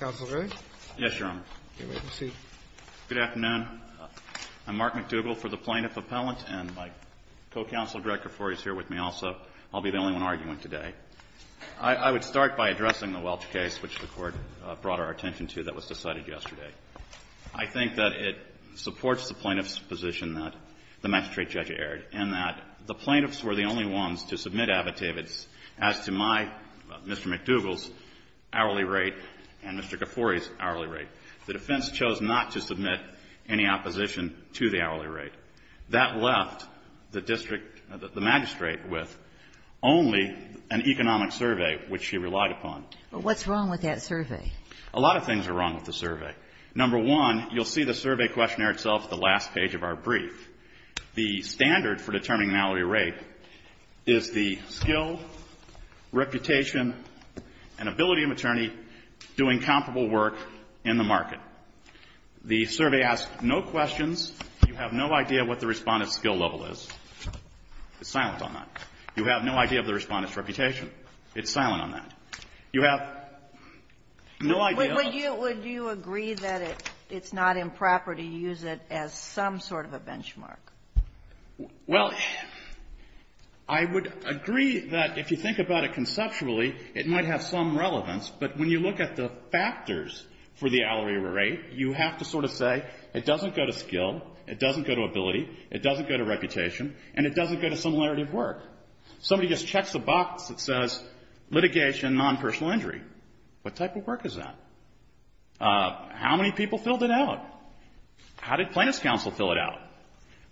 Mr. McDougall. Yes, Your Honor. Please proceed. Good afternoon. I'm Mark McDougall for the Plaintiff Appellant, and my co-counsel, Greg Kifori, is here with me also. I'll be the only one arguing today. I would start by addressing the Welch case, which the Court brought our attention to that was decided yesterday. I think that it supports the plaintiff's position that the magistrate judge erred in that the plaintiffs were the only ones to submit affidavits as to my, Mr. McDougall's, hourly rate and Mr. Kifori's hourly rate. The defense chose not to submit any opposition to the hourly rate. That left the district, the magistrate, with only an economic survey, which she relied upon. But what's wrong with that survey? A lot of things are wrong with the survey. Number one, you'll see the survey questionnaire itself at the last page of our brief. The standard for determining an hourly rate is the skill, reputation, and ability of an attorney doing comparable work in the market. The survey asks no questions. You have no idea what the Respondent's skill level is. It's silent on that. You have no idea of the Respondent's reputation. It's silent on that. You have no idea. Sotomayor, would you agree that it's not improper to use it as some sort of a benchmark? Well, I would agree that if you think about it conceptually, it might have some relevance, but when you look at the factors for the hourly rate, you have to sort of say it doesn't go to skill, it doesn't go to ability, it doesn't go to reputation, and it doesn't go to similarity of work. Somebody just checks a box that says litigation, non-personal injury. What type of work is that? How many people filled it out? How did plaintiff's counsel fill it out?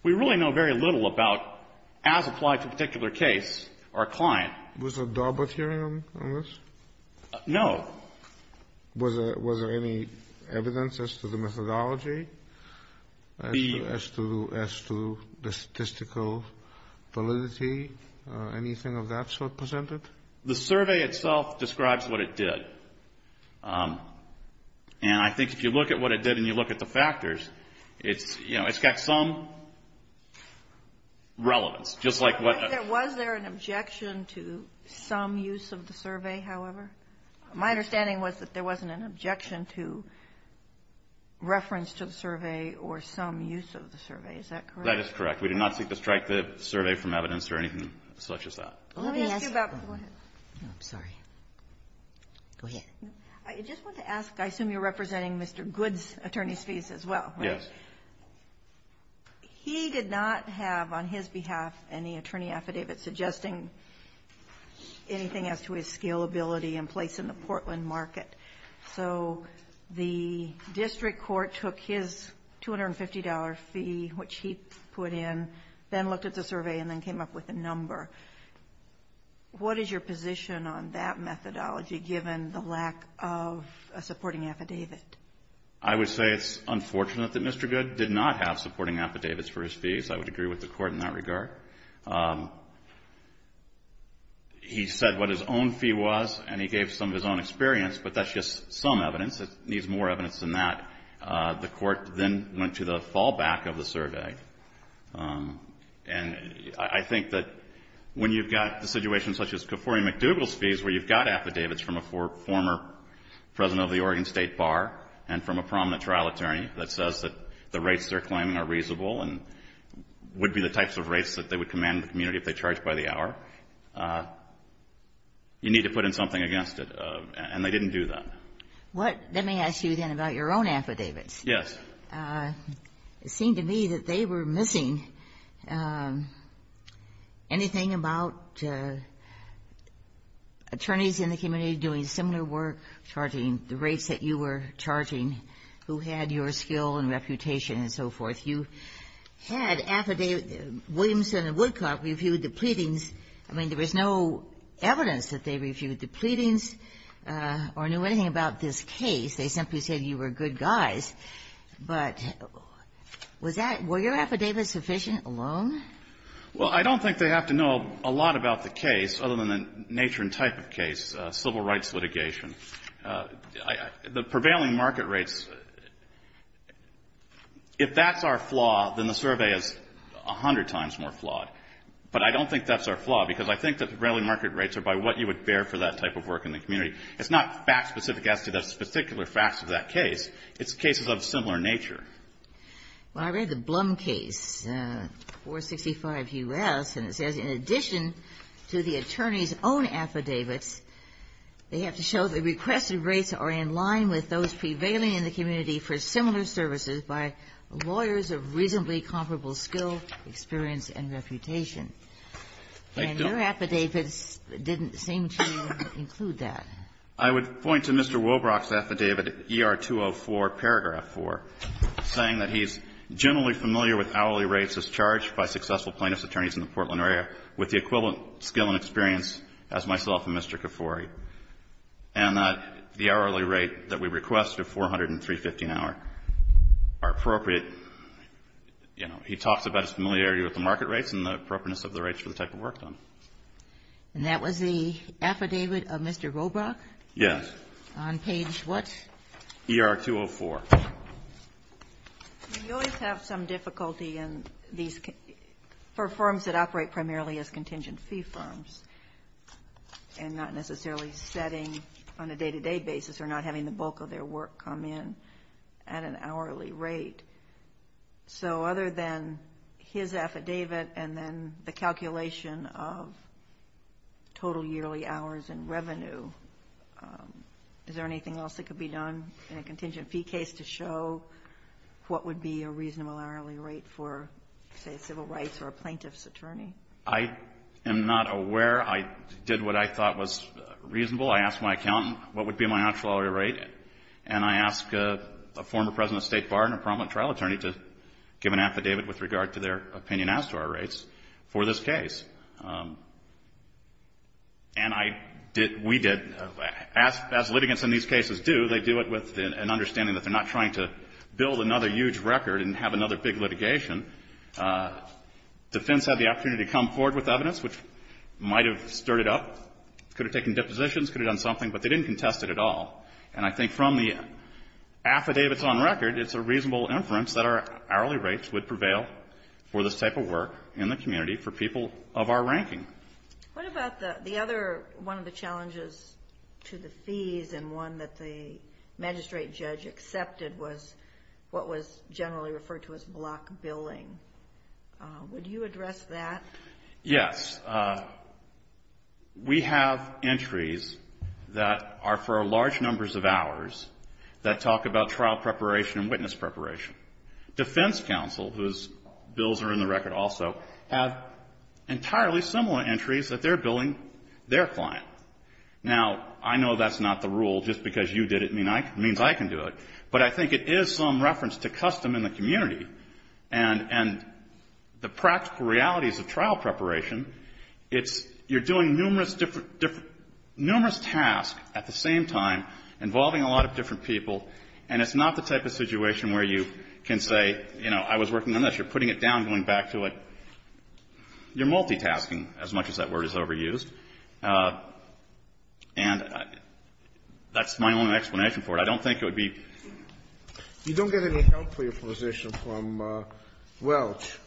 We really know very little about, as applied to a particular case, our client. Was there a dog book here on this? No. Was there any evidence as to the methodology, as to the statistical validity? Anything of that sort presented? The survey itself describes what it did. And I think if you look at what it did and you look at the factors, it's, you know, it's got some relevance, just like what the ---- Was there an objection to some use of the survey, however? My understanding was that there wasn't an objection to reference to the survey or some use of the survey. Is that correct? That is correct. We do not seek to strike the survey from evidence or anything such as that. Let me ask you about the ---- I'm sorry. Go ahead. I just want to ask, I assume you're representing Mr. Goode's attorney's fees as well, right? Yes. He did not have on his behalf any attorney affidavit suggesting anything as to his scalability in place in the Portland market. So the district court took his $250 fee, which he put in, then looked at the survey and then came up with a number. What is your position on that methodology, given the lack of a supporting affidavit? I would say it's unfortunate that Mr. Goode did not have supporting affidavits for his fees. I would agree with the court in that regard. He said what his own fee was, and he gave some of his own experience, but that's just some evidence. It needs more evidence than that. The court then went to the fallback of the survey. And I think that when you've got the situation such as Kefauri McDougall's fees, where you've got affidavits from a former president of the Oregon State Bar and from a prominent trial attorney that says that the rates they're claiming are charged by the hour, you need to put in something against it. And they didn't do that. Let me ask you, then, about your own affidavits. Yes. It seemed to me that they were missing anything about attorneys in the community doing similar work, charging the rates that you were charging, who had your skill and reputation and so forth. You had affidavits. Williamson and Woodcock reviewed the pleadings. I mean, there was no evidence that they reviewed the pleadings or knew anything about this case. They simply said you were good guys. But was that — were your affidavits sufficient alone? Well, I don't think they have to know a lot about the case, other than the nature and type of case, civil rights litigation. The prevailing market rates, if that's our flaw, then the survey is a hundred times more flawed. But I don't think that's our flaw, because I think that the prevailing market rates are by what you would bear for that type of work in the community. It's not fact-specific as to the particular facts of that case. It's cases of similar nature. Well, I read the Blum case, 465 U.S., and it says in addition to the attorney's own affidavits, they have to show the requested rates are in line with those prevailing in the community for similar services by lawyers of reasonably comparable skill, experience, and reputation. And your affidavits didn't seem to include that. I would point to Mr. Wobrock's affidavit, ER-204, paragraph 4, saying that he's generally familiar with hourly rates as charged by successful plaintiff's attorneys in the Portland area, with the equivalent skill and experience as myself and Mr. Kafoury, and that the hourly rate that we request of 400 and 350 an hour are appropriate. You know, he talks about his familiarity with the market rates and the appropriateness of the rates for the type of work done. And that was the affidavit of Mr. Wobrock? Yes. On page what? ER-204. We always have some difficulty in these for firms that operate primarily as contingent fee firms and not necessarily setting on a day-to-day basis or not having the bulk of their work come in at an hourly rate. So other than his affidavit and then the calculation of total yearly hours and revenue, is there anything else that could be done in a contingent fee case to show what would be a reasonable hourly rate for, say, civil rights or a plaintiff's attorney? I am not aware. I did what I thought was reasonable. I asked my accountant what would be my actual hourly rate, and I asked a former president of State Bar and a prominent trial attorney to give an affidavit with regard to their opinion as to our rates for this case. And we did. As litigants in these cases do, they do it with an understanding that they're not trying to build another huge record and have another big litigation. Defense had the opportunity to come forward with evidence, which might have stirred it up, could have taken depositions, could have done something, but they didn't contest it at all. And I think from the affidavits on record, it's a reasonable inference that our hourly rates would prevail for this type of work in the community for people of our ranking. What about the other one of the challenges to the fees and one that the magistrate judge accepted was what was generally referred to as block billing? Would you address that? Yes. We have entries that are for large numbers of hours that talk about trial preparation and witness preparation. Defense counsel, whose bills are in the record also, have entirely similar entries that they're billing their client. Now, I know that's not the rule. Just because you did it means I can do it. But I think it is some reference to custom in the community and the practical realities of trial preparation. You're doing numerous tasks at the same time involving a lot of different people, and it's not the type of situation where you can say, you know, I was working on this, you're putting it down, going back to it. You're multitasking, as much as that word is overused. And that's my only explanation for it. I don't think it would be. You don't get any help for your position from Welch.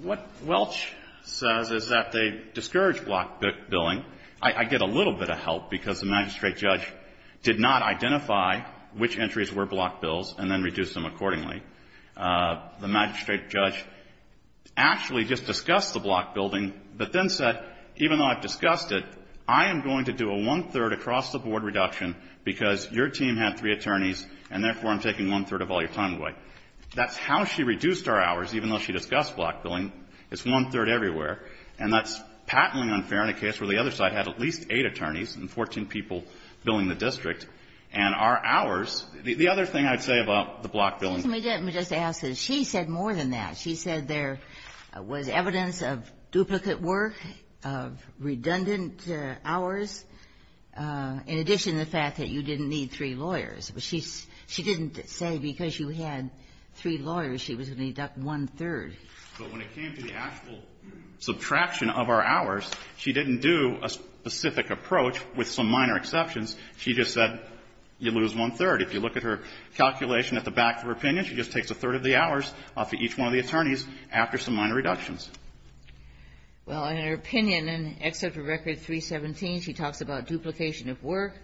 What Welch says is that they discourage block billing. I get a little bit of help because the magistrate judge did not identify which entries were block bills and then reduced them accordingly. The magistrate judge actually just discussed the block billing, but then said, even though I've discussed it, I am going to do a one-third across-the-board reduction because your team had three attorneys and, therefore, I'm taking one-third of all your time away. That's how she reduced our hours, even though she discussed block billing. It's one-third everywhere. And that's patently unfair in a case where the other side had at least eight attorneys and 14 people billing the district, and our hours. The other thing I'd say about the block billing. Ginsburg, let me just ask this. She said more than that. She said there was evidence of duplicate work, of redundant hours, in addition to the fact that you didn't need three lawyers. But she didn't say because you had three lawyers she was going to deduct one-third. But when it came to the actual subtraction of our hours, she didn't do a specific approach with some minor exceptions. She just said you lose one-third. If you look at her calculation at the back of her opinion, she just takes a third of the hours off of each one of the attorneys after some minor reductions. Well, in her opinion, in Excerpt of Record 317, she talks about duplication of work,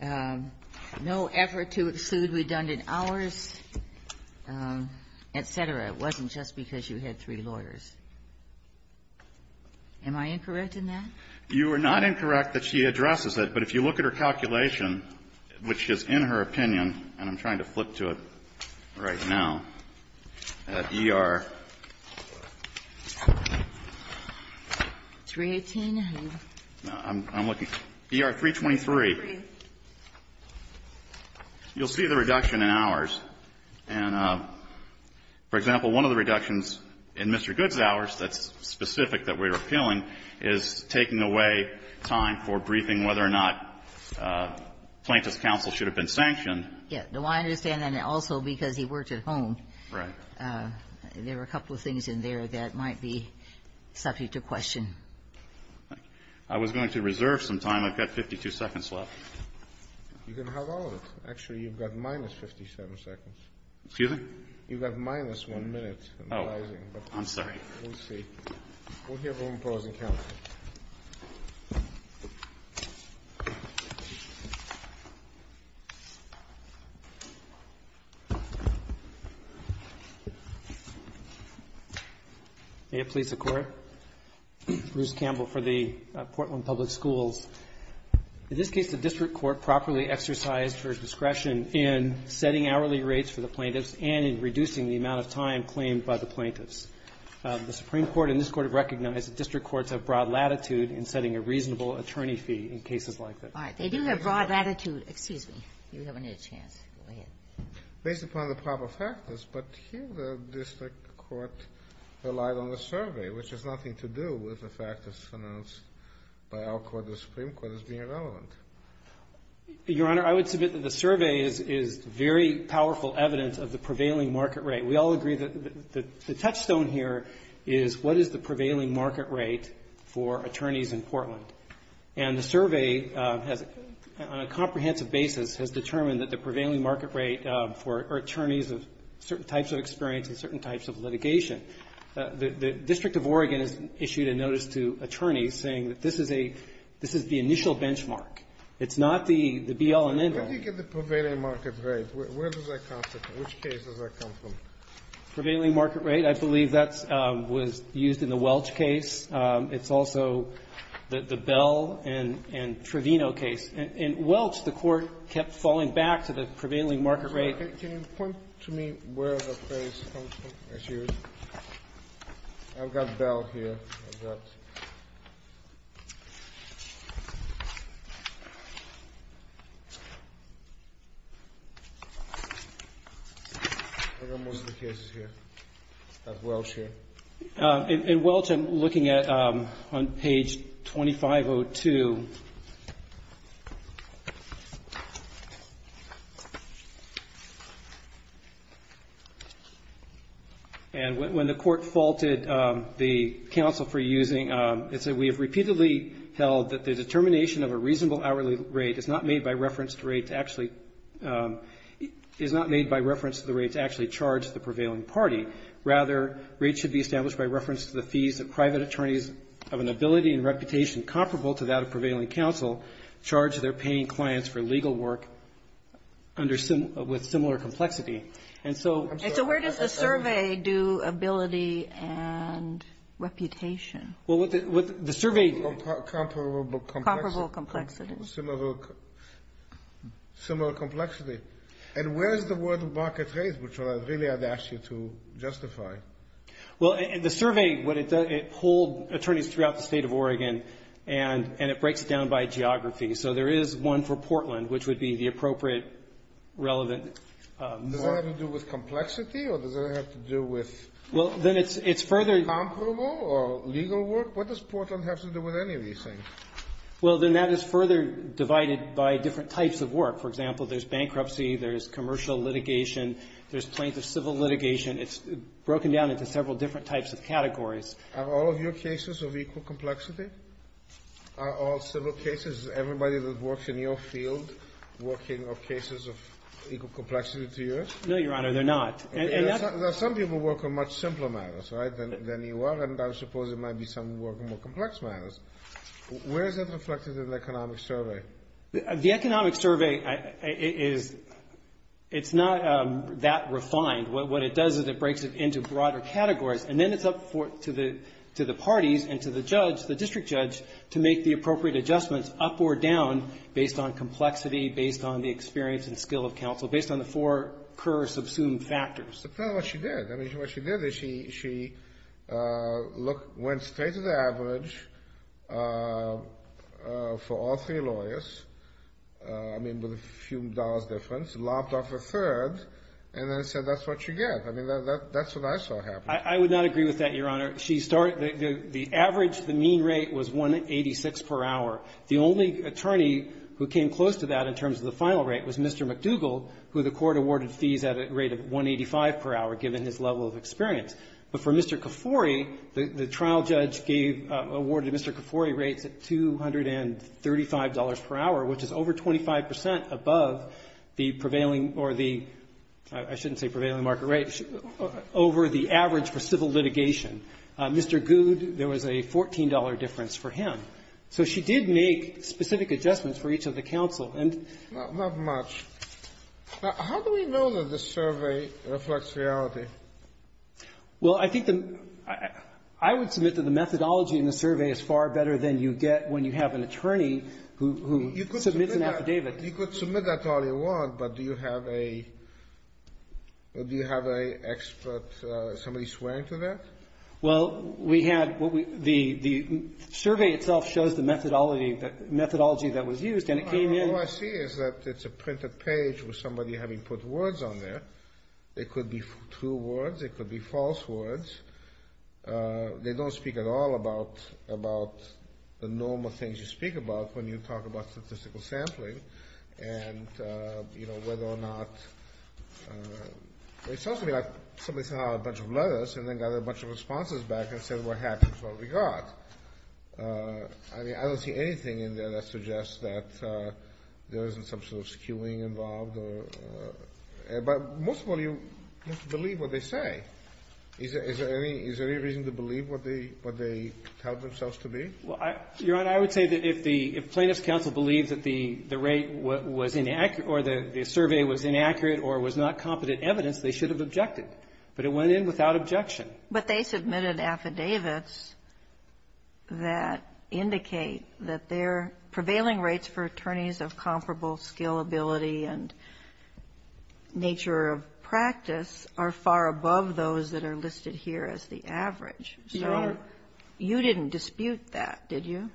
no effort to exclude redundant hours, et cetera. It wasn't just because you had three lawyers. Am I incorrect in that? You are not incorrect that she addresses it. But if you look at her calculation, which is in her opinion, and I'm trying to flip to it right now, at ER 323, you'll see the reduction in hours. And, for example, one of the reductions in Mr. Good's hours that's specific that we're appealing is taking away time for briefing whether or not Plaintiff's counsel should have been sanctioned. Yes. Do I understand? And also because he worked at home. Right. There were a couple of things in there that might be subject to question. I was going to reserve some time. I've got 52 seconds left. You can have all of it. Actually, you've got minus 57 seconds. Excuse me? You've got minus one minute. Oh. I'm sorry. We'll see. We'll give him a pause and count. May it please the Court? Bruce Campbell for the Portland Public Schools. In this case, the district court properly exercised her discretion in setting hourly rates for the plaintiffs and in reducing the amount of time claimed by the plaintiffs. The Supreme Court and this Court have recognized that district courts have broad latitude in setting a reasonable attorney fee in cases like this. All right. They do have broad latitude. Excuse me. You haven't had a chance. Go ahead. Based upon the proper factors, but here the district court relied on the survey, which has nothing to do with the fact that it's announced by our court, the Supreme Court, as being relevant. Your Honor, I would submit that the survey is very powerful evidence of the prevailing market rate. We all agree that the touchstone here is what is the prevailing market rate for attorneys in Portland? And the survey has, on a comprehensive basis, has determined that the prevailing market rate for attorneys of certain types of experience and certain types of litigation. The District of Oregon has issued a notice to attorneys saying that this is a the initial benchmark. It's not the be-all and end-all. Where do you get the prevailing market rate? Where does that come from? Which case does that come from? Prevailing market rate, I believe that was used in the Welch case. It's also the Bell and Trevino case. In Welch, the court kept falling back to the prevailing market rate. Can you point to me where that case comes from? I've got Bell here. I've got most of the cases here at Welch here. In Welch, I'm looking at page 2502. And when the court faulted the counsel for using, it said, we have repeatedly held that the determination of a reasonable hourly rate is not made by reference to the rate to actually charge the prevailing party. Rather, rates should be established by reference to the fees that private counsel charge their paying clients for legal work with similar complexity. And so where does the survey do ability and reputation? Comparable complexity. Similar complexity. And where is the word market rate, which really I'd ask you to justify? Well, in the survey, it pulled attorneys throughout the state of Oregon, and it breaks it down by geography. So there is one for Portland, which would be the appropriate relevant mark. Does that have to do with complexity, or does that have to do with comparable or legal work? What does Portland have to do with any of these things? Well, then that is further divided by different types of work. For example, there's bankruptcy, there's commercial litigation, there's plaintiff civil litigation. It's broken down into several different types of categories. Are all of your cases of equal complexity? Are all civil cases, everybody that works in your field working on cases of equal complexity to yours? No, Your Honor, they're not. Some people work on much simpler matters than you are, and I suppose there might be some who work on more complex matters. Where is that reflected in the economic survey? The economic survey is not that refined. What it does is it breaks it into broader categories. And then it's up to the parties and to the judge, the district judge, to make the appropriate adjustments up or down based on complexity, based on the experience and skill of counsel, based on the four core subsumed factors. But that's not what she did. I mean, what she did is she went straight to the average for all three lawyers, I mean, with a few dollars difference, lopped off a third, and then said that's what you get. I mean, that's what I saw happen. I would not agree with that, Your Honor. The average, the mean rate, was 186 per hour. The only attorney who came close to that in terms of the final rate was Mr. McDougall, who the court awarded fees at a rate of 185 per hour, given his level of experience. But for Mr. Kafoury, the trial judge awarded Mr. Kafoury rates at $235 per hour, which is over 25 percent above the prevailing or the, I shouldn't say prevailing market rate, over the average for civil litigation. Mr. Goode, there was a $14 difference for him. So she did make specific adjustments for each of the counsel. And not much. Now, how do we know that the survey reflects reality? Well, I think the — I would submit that the methodology in the survey is far better than you get when you have an attorney who submits an affidavit. You could submit that all you want, but do you have a expert, somebody swearing to that? Well, we had — the survey itself shows the methodology that was used, and it came in — All I see is that it's a printed page with somebody having put words on there. It could be true words. It could be false words. They don't speak at all about the normal things you speak about when you talk about statistical sampling and whether or not — it sounds to me like somebody sent out a bunch of letters and then got a bunch of responses back and said what happened, what we got. I mean, I don't see anything in there that suggests that there isn't some sort of skewing involved. But most of all, you have to believe what they say. Is there any reason to believe what they tell themselves to be? Your Honor, I would say that if the plaintiff's counsel believes that the rate was inaccurate or the survey was inaccurate or was not competent evidence, they should have objected. But it went in without objection. But they submitted affidavits that indicate that their prevailing rates for attorneys of comparable scalability and nature of practice are far above those that are listed here as the average. Your Honor. You didn't dispute that, did you?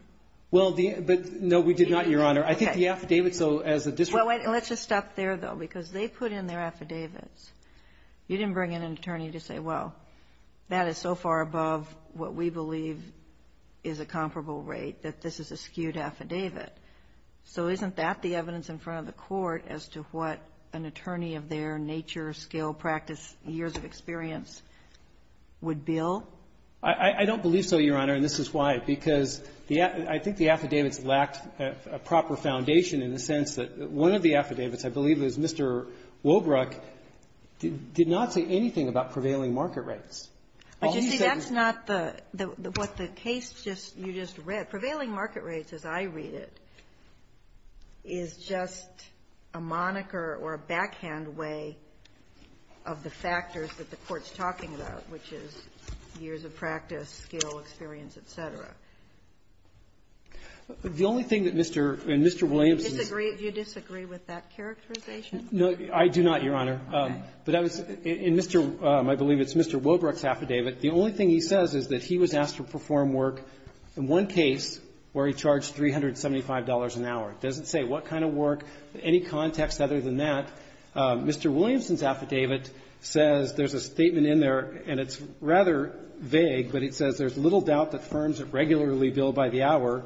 Well, but no, we did not, Your Honor. I think the affidavits, though, as a district — Well, let's just stop there, though, because they put in their affidavits. You didn't bring in an attorney to say, well, that is so far above what we believe is a comparable rate that this is a skewed affidavit. So isn't that the evidence in front of the court as to what an attorney of their nature, scale, practice, years of experience would bill? I don't believe so, Your Honor, and this is why. Because the — I think the affidavits lacked a proper foundation in the sense that one of the affidavits, I believe, is Mr. Wobbrock did not say anything about prevailing All he said was — But, you see, that's not the — what the case just — you just read. Prevailing market rates, as I read it, is just a moniker or a backhand way of the factors that the court's talking about, which is years of practice, scale, experience, et cetera. The only thing that Mr. — and Mr. Williamson's — Do you disagree with that characterization? No, I do not, Your Honor. But I was — in Mr. — I believe it's Mr. Wobbrock's affidavit. The only thing he says is that he was asked to perform work in one case where he charged $375 an hour. It doesn't say what kind of work, any context other than that. Mr. Williamson's affidavit says — there's a statement in there, and it's rather vague, but it says there's little doubt that firms that regularly bill by the hour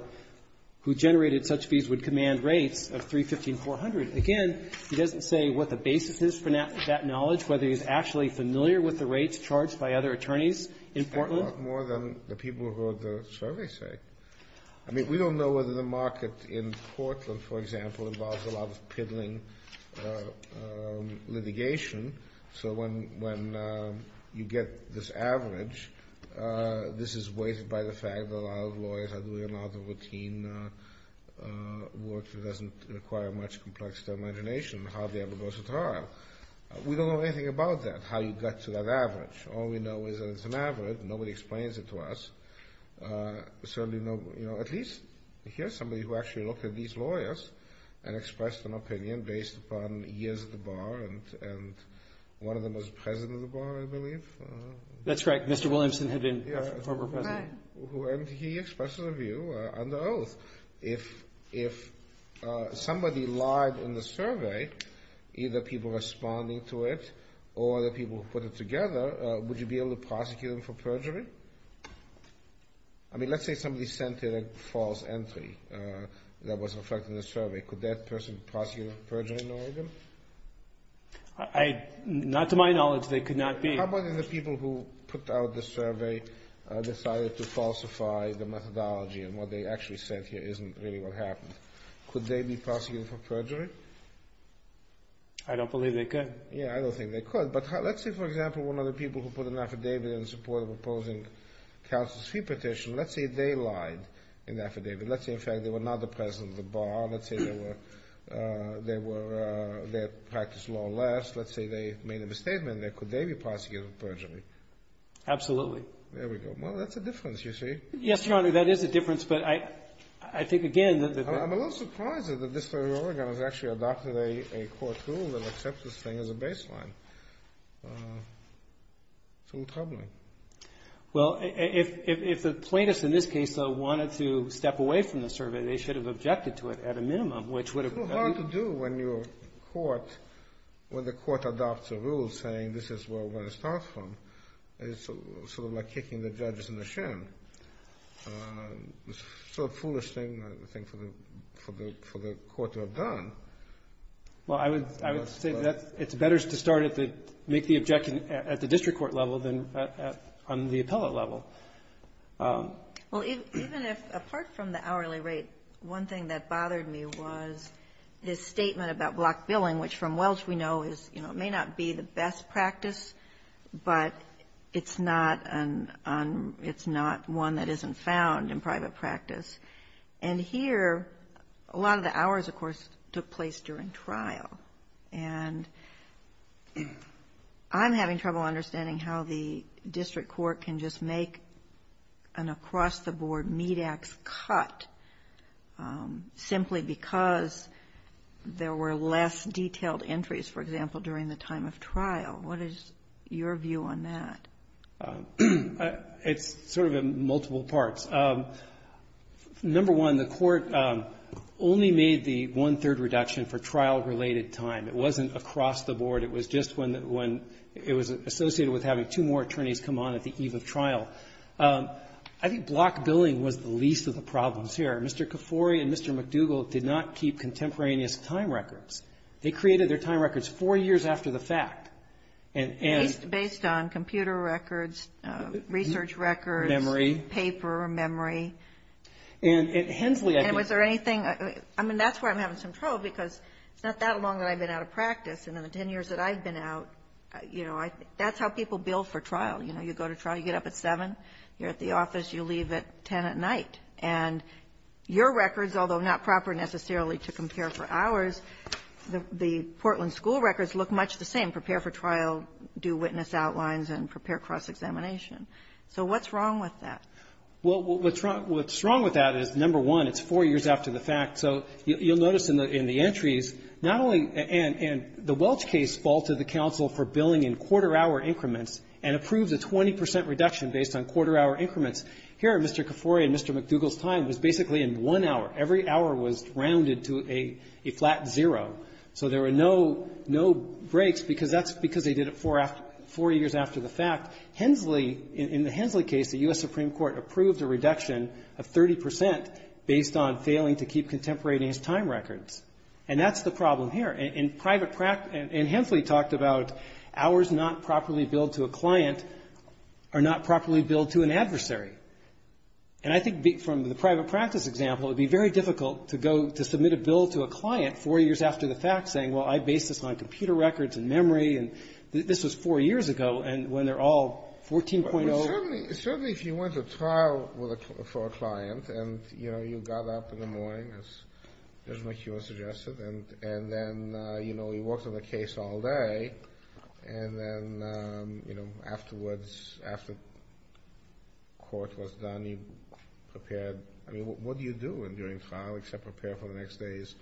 who generated such fees would command rates of $315,400. Again, he doesn't say what the basis is for that knowledge, whether he's actually familiar with the rates charged by other attorneys in Portland. I know more than the people who wrote the survey say. I mean, we don't know whether the market in Portland, for example, involves a lot of piddling litigation. So when you get this average, this is weighted by the fact that a lot of lawyers are doing a lot of routine work that doesn't require much complex imagination of how they ever go to trial. We don't know anything about that, how you get to that average. All we know is that it's an average. Nobody explains it to us. Certainly no — you know, at least here's somebody who actually looked at these lawyers and expressed an opinion based upon years at the bar, and one of them was president of the bar, I believe. That's right. Mr. Williamson had been a former president. Right. And he expressed a view under oath. If somebody lied in the survey, either people responding to it or the people who put it together, would you be able to prosecute them for perjury? I mean, let's say somebody sent in a false entry that was reflected in the survey. Could that person prosecute for perjury in Oregon? Not to my knowledge, they could not be. How about if the people who put out the survey decided to falsify the methodology and what they actually sent here isn't really what happened? Could they be prosecuted for perjury? I don't believe they could. Yeah, I don't think they could. But let's say, for example, one of the people who put an affidavit in support of opposing counsel's fee petition. Let's say they lied in the affidavit. Let's say, in fact, they were not the president of the bar. Let's say they practiced law less. Let's say they made a misstatement. Could they be prosecuted for perjury? Absolutely. There we go. Well, that's a difference, you see. Yes, Your Honor, that is a difference, but I think, again, that... I'm a little surprised that the District of Oregon has actually adopted a court rule that accepts this thing as a baseline. It's a little troubling. Well, if the plaintiffs in this case, though, wanted to step away from the survey, they should have objected to it at a minimum, which would have... It's a little hard to do when the court adopts a rule saying this is where we're going to start from. It's sort of like kicking the judges in the shin. It's a foolish thing, I think, for the court to have done. Well, I would say that it's better to start at the... make the objection at the district court level than on the appellate level. Well, even if... apart from the hourly rate, one thing that bothered me was his statement about block billing, which from Welch we know is, you know, may not be the best practice, but it's not an... it's not one that isn't found in private practice. And here, a lot of the hours, of course, took place during trial. And I'm having trouble understanding how the district court can just make an across-the-board meat-ax cut simply because there were less detailed entries, for example, during the time of trial. What is your view on that? It's sort of in multiple parts. Number one, the court only made the one-third reduction for trial-related time. It wasn't across-the-board. It was just when it was associated with having two more attorneys come on at the eve of trial. I think block billing was the least of the problems here. Mr. Kafoury and Mr. McDougall did not keep contemporaneous time records. They created their time records four years after the fact. Based on computer records, research records... Memory. ...paper, memory. And at Hensley, I think... And was there anything... I mean, that's where I'm having some trouble because it's not that long that I've been out of practice. And in the 10 years that I've been out, you know, that's how people bill for trial. You know, you go to trial, you get up at 7, you're at the office, you leave at 10 at night. And your records, although not proper necessarily to compare for hours, the Portland school records look much the same, prepare for trial, do witness outlines, and prepare cross-examination. So what's wrong with that? Well, what's wrong with that is, number one, it's four years after the fact. So you'll notice in the entries, not only the Welch case faulted the counsel for billing in quarter-hour increments and approved a 20 percent reduction based on quarter-hour increments. Here, Mr. Kafoury and Mr. McDougall's time was basically in one hour. Every hour was rounded to a flat zero. So there were no breaks because that's because they did it four years after the fact. Hensley, in the Hensley case, the U.S. Supreme Court approved a reduction of 30 percent based on failing to keep contemporaneous time records. And that's the problem here. And Hensley talked about hours not properly billed to a client are not properly billed to an adversary. And I think from the private practice example, it would be very difficult to go to submit a bill to a client four years after the fact, saying, well, I based this on computer records and memory, and this was four years ago, and when they're all 14.0. Well, certainly if you went to trial for a client and, you know, you got up in the morning, as Mr. McHugh suggested, and then, you know, you worked on the case all day, and then, you know, afterwards, after court was done, you prepared. I mean, what do you do during trial except prepare for the next day's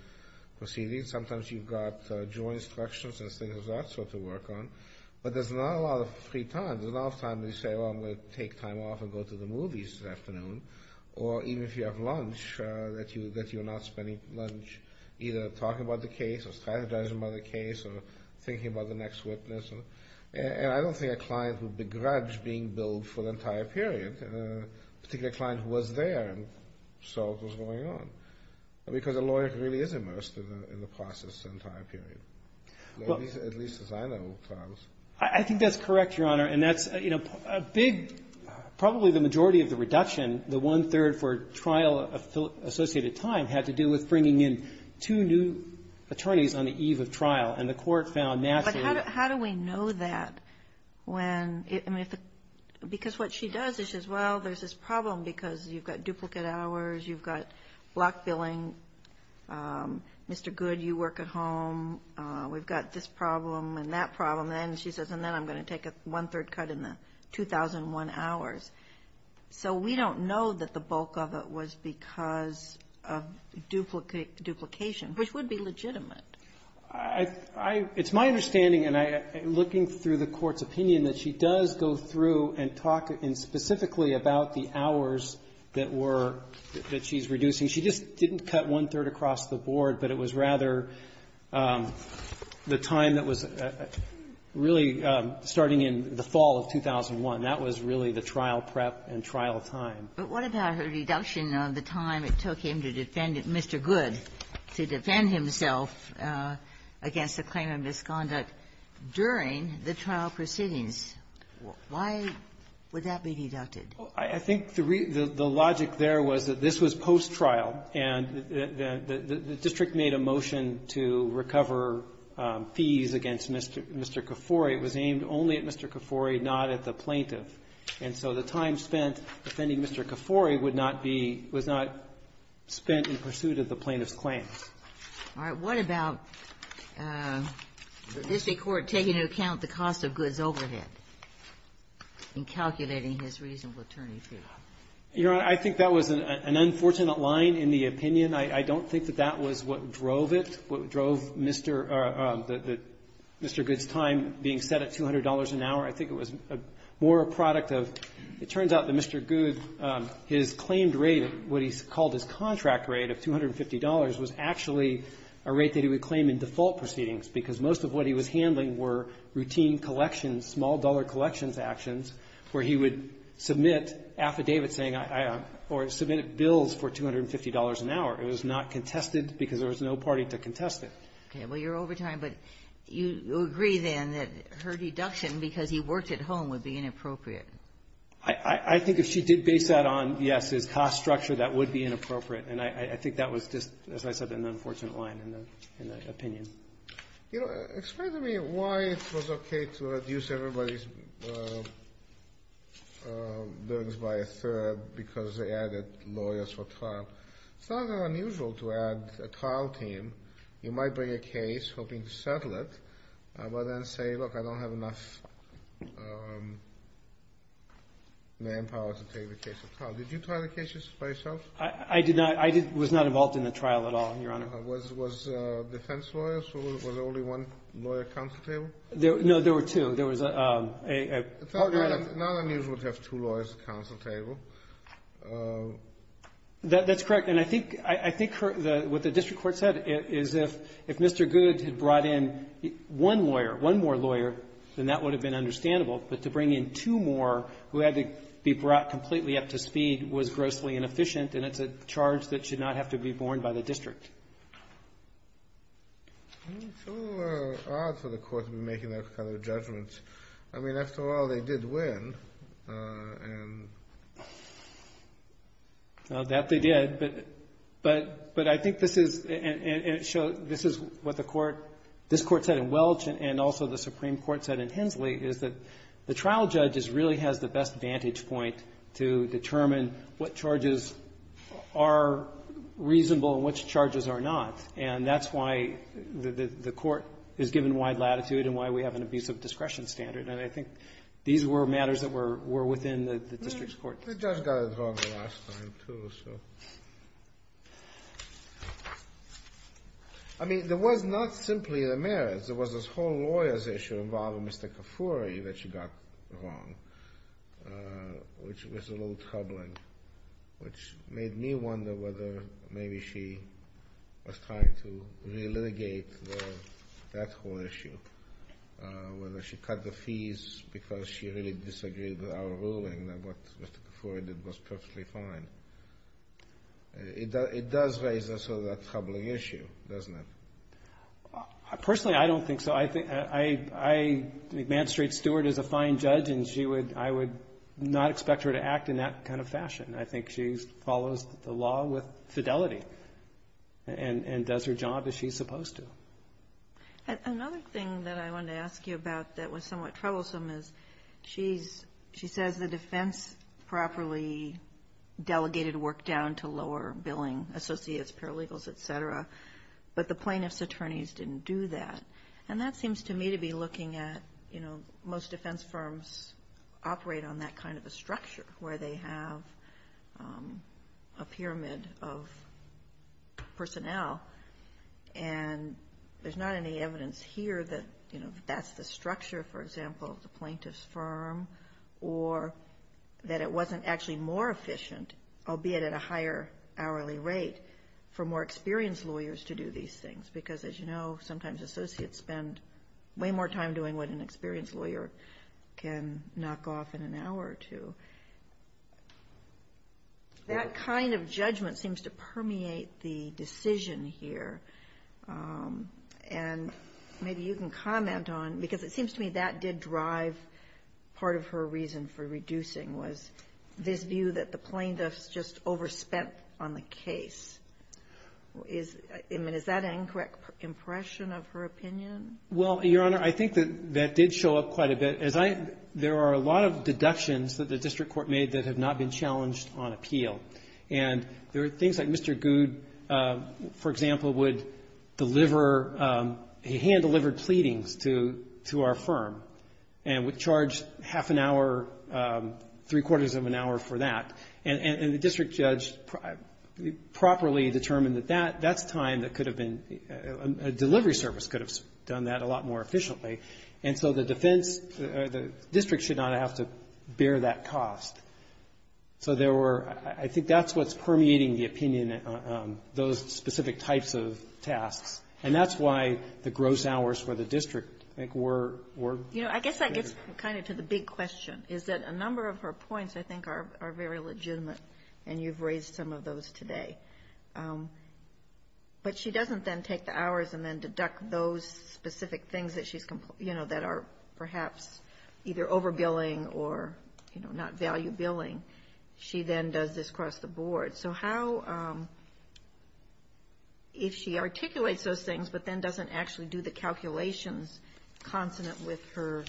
proceedings? Sometimes you've got joint instructions and things of that sort to work on. But there's not a lot of free time. There's not enough time to say, well, I'm going to take time off and go to the movies this afternoon. Or even if you have lunch, that you're not spending lunch either talking about the case or strategizing about the case or thinking about the next witness. And I don't think a client would begrudge being billed for the entire period, particularly a client who was there and saw what was going on, because a lawyer really is immersed in the process, the entire period, at least as I know trials. I think that's correct, Your Honor, and that's, you know, a big – probably the majority of the reduction, the one-third for trial-associated time, had to do with bringing in two new attorneys on the eve of trial, and the court found naturally – Because what she does is she says, well, there's this problem because you've got duplicate hours. You've got block billing. Mr. Goode, you work at home. We've got this problem and that problem. And she says, and then I'm going to take a one-third cut in the 2001 hours. So we don't know that the bulk of it was because of duplication, which would be legitimate. It's my understanding, and I'm looking through the Court's opinion, that she does go through and talk specifically about the hours that were – that she's reducing. She just didn't cut one-third across the board, but it was rather the time that was really starting in the fall of 2001. That was really the trial prep and trial time. Ginsburg. But what about her reduction of the time it took him to defend Mr. Goode, to defend himself against the claim of misconduct during the trial proceedings? Why would that be deducted? I think the logic there was that this was post-trial, and the district made a motion to recover fees against Mr. Kifori. It was aimed only at Mr. Kifori, not at the plaintiff. And so the time spent defending Mr. Kifori would not be – was not spent in pursuit of the plaintiff's claims. All right. What about the district court taking into account the cost of Goode's overhead in calculating his reasonable attorney fee? Your Honor, I think that was an unfortunate line in the opinion. I don't think that that was what drove it, what drove Mr. – Mr. Goode's time being set at $200 an hour. I think it was more a product of – it turns out that Mr. Goode, his claimed rate, what he called his contract rate of $250, was actually a rate that he would claim in default proceedings, because most of what he was handling were routine collections, small-dollar collections actions, where he would submit affidavits saying I – or submit bills for $250 an hour. It was not contested because there was no party to contest it. Okay. Well, you're over time, but you agree then that her deduction because he worked at home would be inappropriate? I think if she did base that on, yes, his cost structure, that would be inappropriate. And I think that was just, as I said, an unfortunate line in the – in the opinion. You know, explain to me why it was okay to reduce everybody's loans by a third because they added lawyers for trial. It's not unusual to add a trial team. You might bring a case, hoping to settle it, but then say, look, I don't have enough manpower to take the case to trial. Did you try the cases by yourself? I did not. I was not involved in the trial at all, Your Honor. Was defense lawyers? Was there only one lawyer at counsel table? No, there were two. There was a – It's not unusual to have two lawyers at counsel table. That's correct. And I think – I think what the district court said is if Mr. Good had brought in one lawyer, one more lawyer, then that would have been understandable. But to bring in two more who had to be brought completely up to speed was grossly inefficient, and it's a charge that should not have to be borne by the district. It's a little odd for the court to be making that kind of judgment. I mean, after all, they did win. Well, that they did, but I think this is – and it shows – this is what the court – this court said in Welch and also the Supreme Court said in Hensley is that the trial judge really has the best vantage point to determine what charges are reasonable and which charges are not, and that's why the court is given wide latitude and why we have an abusive discretion standard. And I think these were matters that were within the district's court. The judge got it wrong the last time, too, so – I mean, there was not simply the merits. There was this whole lawyer's issue involving Mr. Kafoury that she got wrong, which was a little troubling, which made me wonder whether maybe she was trying to appease, because she really disagreed with our ruling that what Mr. Kafoury did was perfectly fine. It does raise also that troubling issue, doesn't it? Personally, I don't think so. I think – I – I think Ma'am Street-Stewart is a fine judge, and she would – I would not expect her to act in that kind of fashion. I think she follows the law with fidelity and does her job as she's supposed to. Another thing that I wanted to ask you about that was somewhat troublesome is she's – she says the defense properly delegated work down to lower billing, associates, paralegals, et cetera, but the plaintiff's attorneys didn't do that. And that seems to me to be looking at – you know, most defense firms operate on that kind of a structure, where they have a pyramid of personnel, and the attorneys – there's not any evidence here that, you know, that's the structure, for example, of the plaintiff's firm, or that it wasn't actually more efficient, albeit at a higher hourly rate, for more experienced lawyers to do these things, because, as you know, sometimes associates spend way more time doing what an experienced lawyer can knock off in an hour or two. That kind of judgment seems to permeate the decision here. And maybe you can comment on – because it seems to me that did drive part of her reason for reducing, was this view that the plaintiff's just overspent on the case. Is – I mean, is that an incorrect impression of her opinion? Well, Your Honor, I think that that did show up quite a bit. As I – there are a lot of deductions that the district court made that have not been challenged on appeal. And there are things like Mr. Goode, for example, would deliver – he hand-delivered pleadings to our firm, and would charge half an hour, three-quarters of an hour for that. And the district judge properly determined that that's time that could have been – a delivery service could have done that a lot more efficiently. And so the defense – the district should not have to bear that cost. So there were – I think that's what's permeating the opinion, those specific types of tasks. And that's why the gross hours for the district, I think, were greater. You know, I guess that gets kind of to the big question, is that a number of her But she doesn't then take the hours and then deduct those specific things that she's – you know, that are perhaps either overbilling or, you know, not value billing. She then does this across the board. So how – if she articulates those things, but then doesn't actually do the calculations consonant with her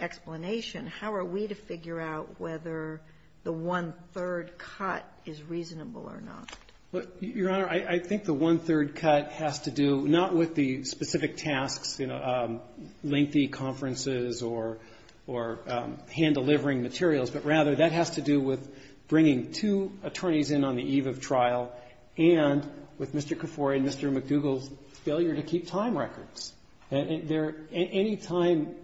explanation, how are we to figure out whether the one-third cut is reasonable or not? Well, Your Honor, I think the one-third cut has to do not with the specific tasks, you know, lengthy conferences or hand-delivering materials, but rather that has to do with bringing two attorneys in on the eve of trial and with Mr. Kifori and Mr. McDougal's failure to keep time records. Any time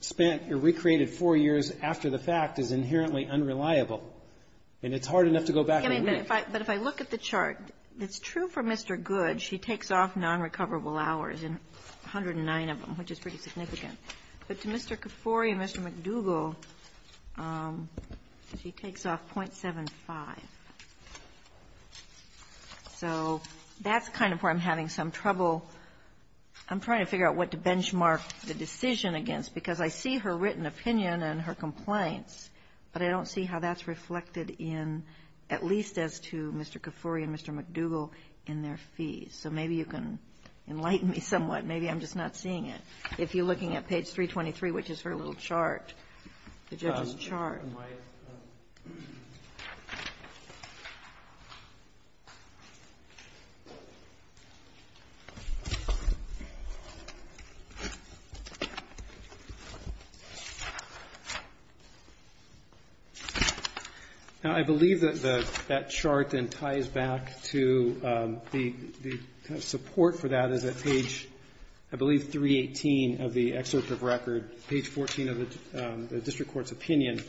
spent or recreated four years after the fact is inherently unreliable, But if I look at the chart, it's true for Mr. Good, she takes off nonrecoverable hours, 109 of them, which is pretty significant. But to Mr. Kifori and Mr. McDougal, she takes off .75. So that's kind of where I'm having some trouble. I'm trying to figure out what to benchmark the decision against, because I see her written opinion and her complaints, but I don't see how that's reflected in, at least as to Mr. Kifori and Mr. McDougal, in their fees. So maybe you can enlighten me somewhat. Maybe I'm just not seeing it. If you're looking at page 323, which is her little chart, the judge's chart. Now, I believe that that chart then ties back to the kind of support for that is at page, I believe, 318 of the excerpt of record, page 14 of the district court's opinion.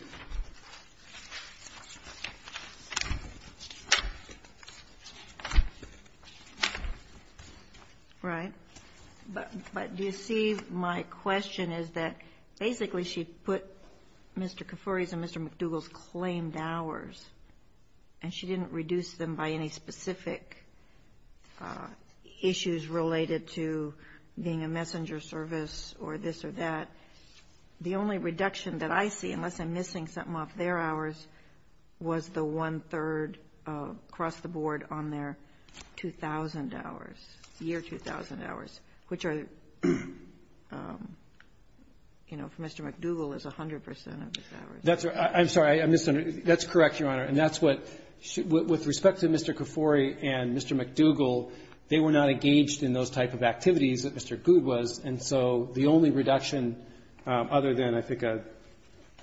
Right. But do you see my question is that basically she put Mr. Kifori's and Mr. McDougal's claimed hours, and she didn't reduce them by any specific issues related to being a messenger service or this or that. The only reduction that I see, unless I'm missing something, that came off their hours was the one-third across the board on their 2,000 hours, year 2,000 hours, which are, you know, for Mr. McDougal is 100 percent of his hours. That's correct, Your Honor, and that's what, with respect to Mr. Kifori and Mr. McDougal, they were not engaged in those type of activities that Mr. Goode was, and so the only reduction other than, I think, a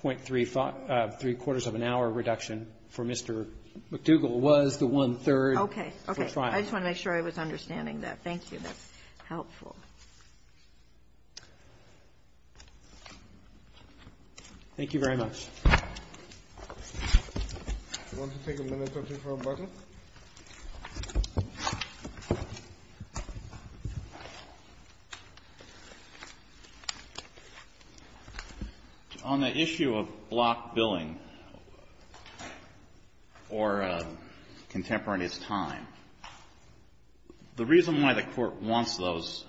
0.35, three-quarters of an hour reduction for Mr. McDougal was the one-third for trial. Okay. Okay. I just want to make sure I was understanding that. Thank you. That's helpful. Thank you very much. I want to take a minute or two for rebuttal. On the issue of block billing or contemporaneous time, the reason why the Court wants those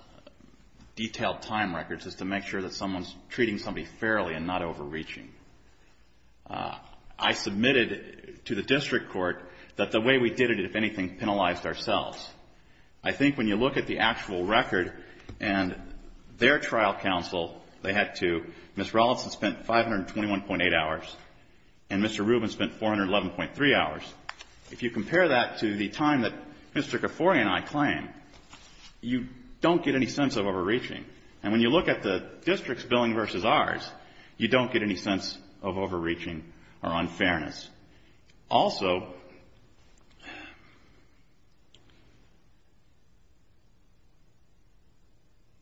detailed time records is to make sure that someone's treating somebody fairly and not overreaching. I submitted to the district court that the way we did it, if anything, penalized ourselves. I think when you look at the actual record and their trial counsel, they had to, Ms. Rawlinson spent 521.8 hours and Mr. Rubin spent 411.3 hours. If you compare that to the time that Mr. Kifori and I claimed, you don't get any sense of overreaching. And when you look at the district's billing versus ours, you don't get any sense of overreaching or unfairness. Also,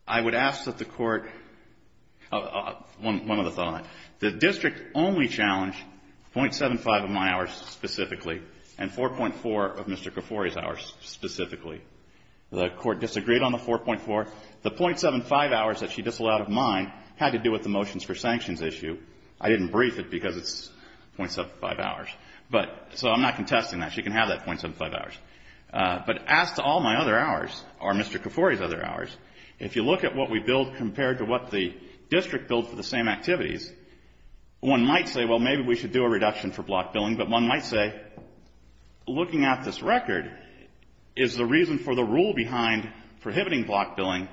I would ask that the Court, one other thought, the district only challenged .75 of my hours specifically and 4.4 of Mr. Kifori's hours specifically. The Court disagreed on the 4.4. The .75 hours that she disallowed of mine had to do with the motions for sanctions issue. I didn't brief it because it's .75 hours. But so I'm not contesting that. She can have that .75 hours. But as to all my other hours or Mr. Kifori's other hours, if you look at what we billed compared to what the district billed for the same activities, one might say, well, maybe we should do a reduction for block billing. But one might say, looking at this record, is the reason for the rule behind prohibiting block billing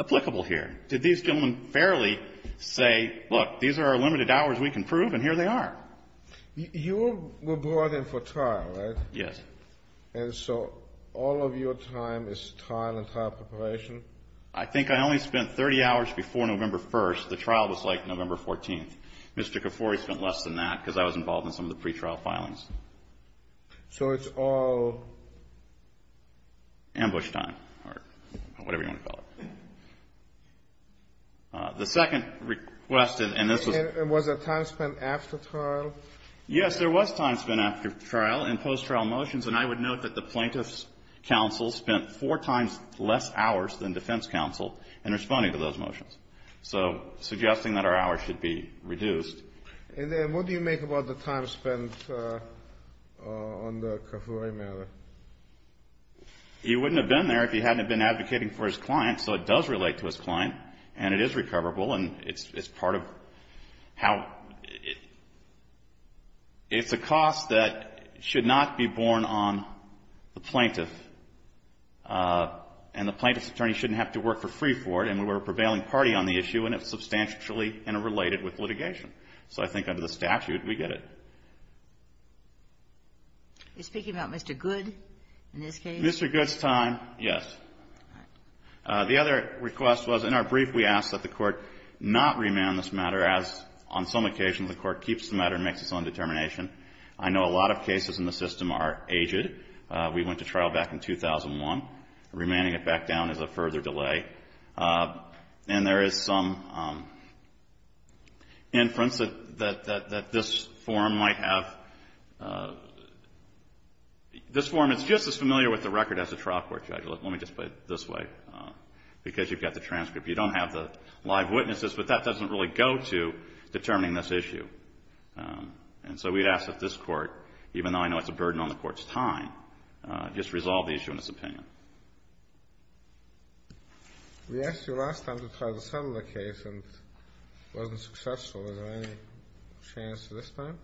applicable here? Did these gentlemen fairly say, look, these are our limited hours, we can prove, and here they are? You were brought in for trial, right? Yes. And so all of your time is trial and trial preparation? I think I only spent 30 hours before November 1st. The trial was like November 14th. Mr. Kifori spent less than that because I was involved in some of the pretrial filings. So it's all ambush time or whatever you want to call it. The second request, and this was Was there time spent after trial? Yes, there was time spent after trial and post-trial motions. And I would note that the plaintiff's counsel spent four times less hours than defense counsel in responding to those motions. So suggesting that our hours should be reduced. And then what do you make about the time spent on the Kifori matter? You wouldn't have been there if you hadn't been advocating for his client. So it does relate to his client, and it is recoverable, and it's part of how It's a cost that should not be borne on the plaintiff. And the plaintiff's attorney shouldn't have to work for free for it, and we're a prevailing party on the issue, and it's substantially interrelated with litigation. So I think under the statute, we get it. Are you speaking about Mr. Goode in this case? Mr. Goode's time, yes. All right. The other request was, in our brief, we asked that the Court not remand this matter as, on some occasions, the Court keeps the matter and makes its own determination. I know a lot of cases in the system are aged. We went to trial back in 2001. Remanding it back down is a further delay. And there is some inference that this forum might have This forum is just as familiar with the record as the trial court judge. Let me just put it this way, because you've got the transcript. You don't have the live witnesses, but that doesn't really go to determining this issue. And so we'd ask that this Court, even though I know it's a burden on the Court's time, just resolve the issue in its opinion. We asked you last time to try the Settler case and it wasn't successful. Is there any chance this time?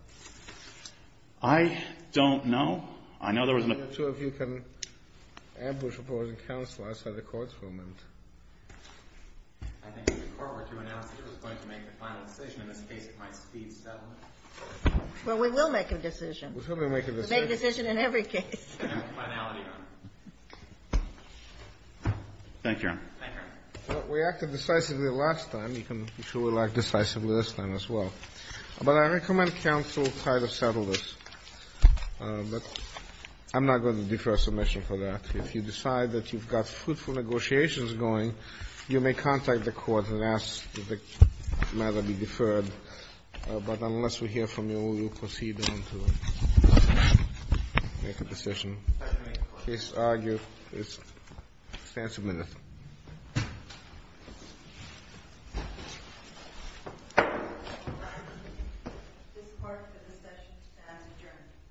I don't know. I know there was no I'm not sure if you can ambush opposing counsel outside the courtroom. I think if the Court were to announce that it was going to make a final decision in this case, it might speed settlement. Well, we will make a decision. We'll certainly make a decision. We'll make a decision in every case. Thank you, Your Honor. Thank you, Your Honor. We acted decisively last time. You can be sure we'll act decisively this time as well. But I recommend counsel try to settle this. But I'm not going to defer a submission for that. If you decide that you've got fruitful negotiations going, you may contact the Court and ask that the matter be deferred. But unless we hear from you, we will proceed on to make a decision. Case argued. Please stand for a minute. This court is adjourned.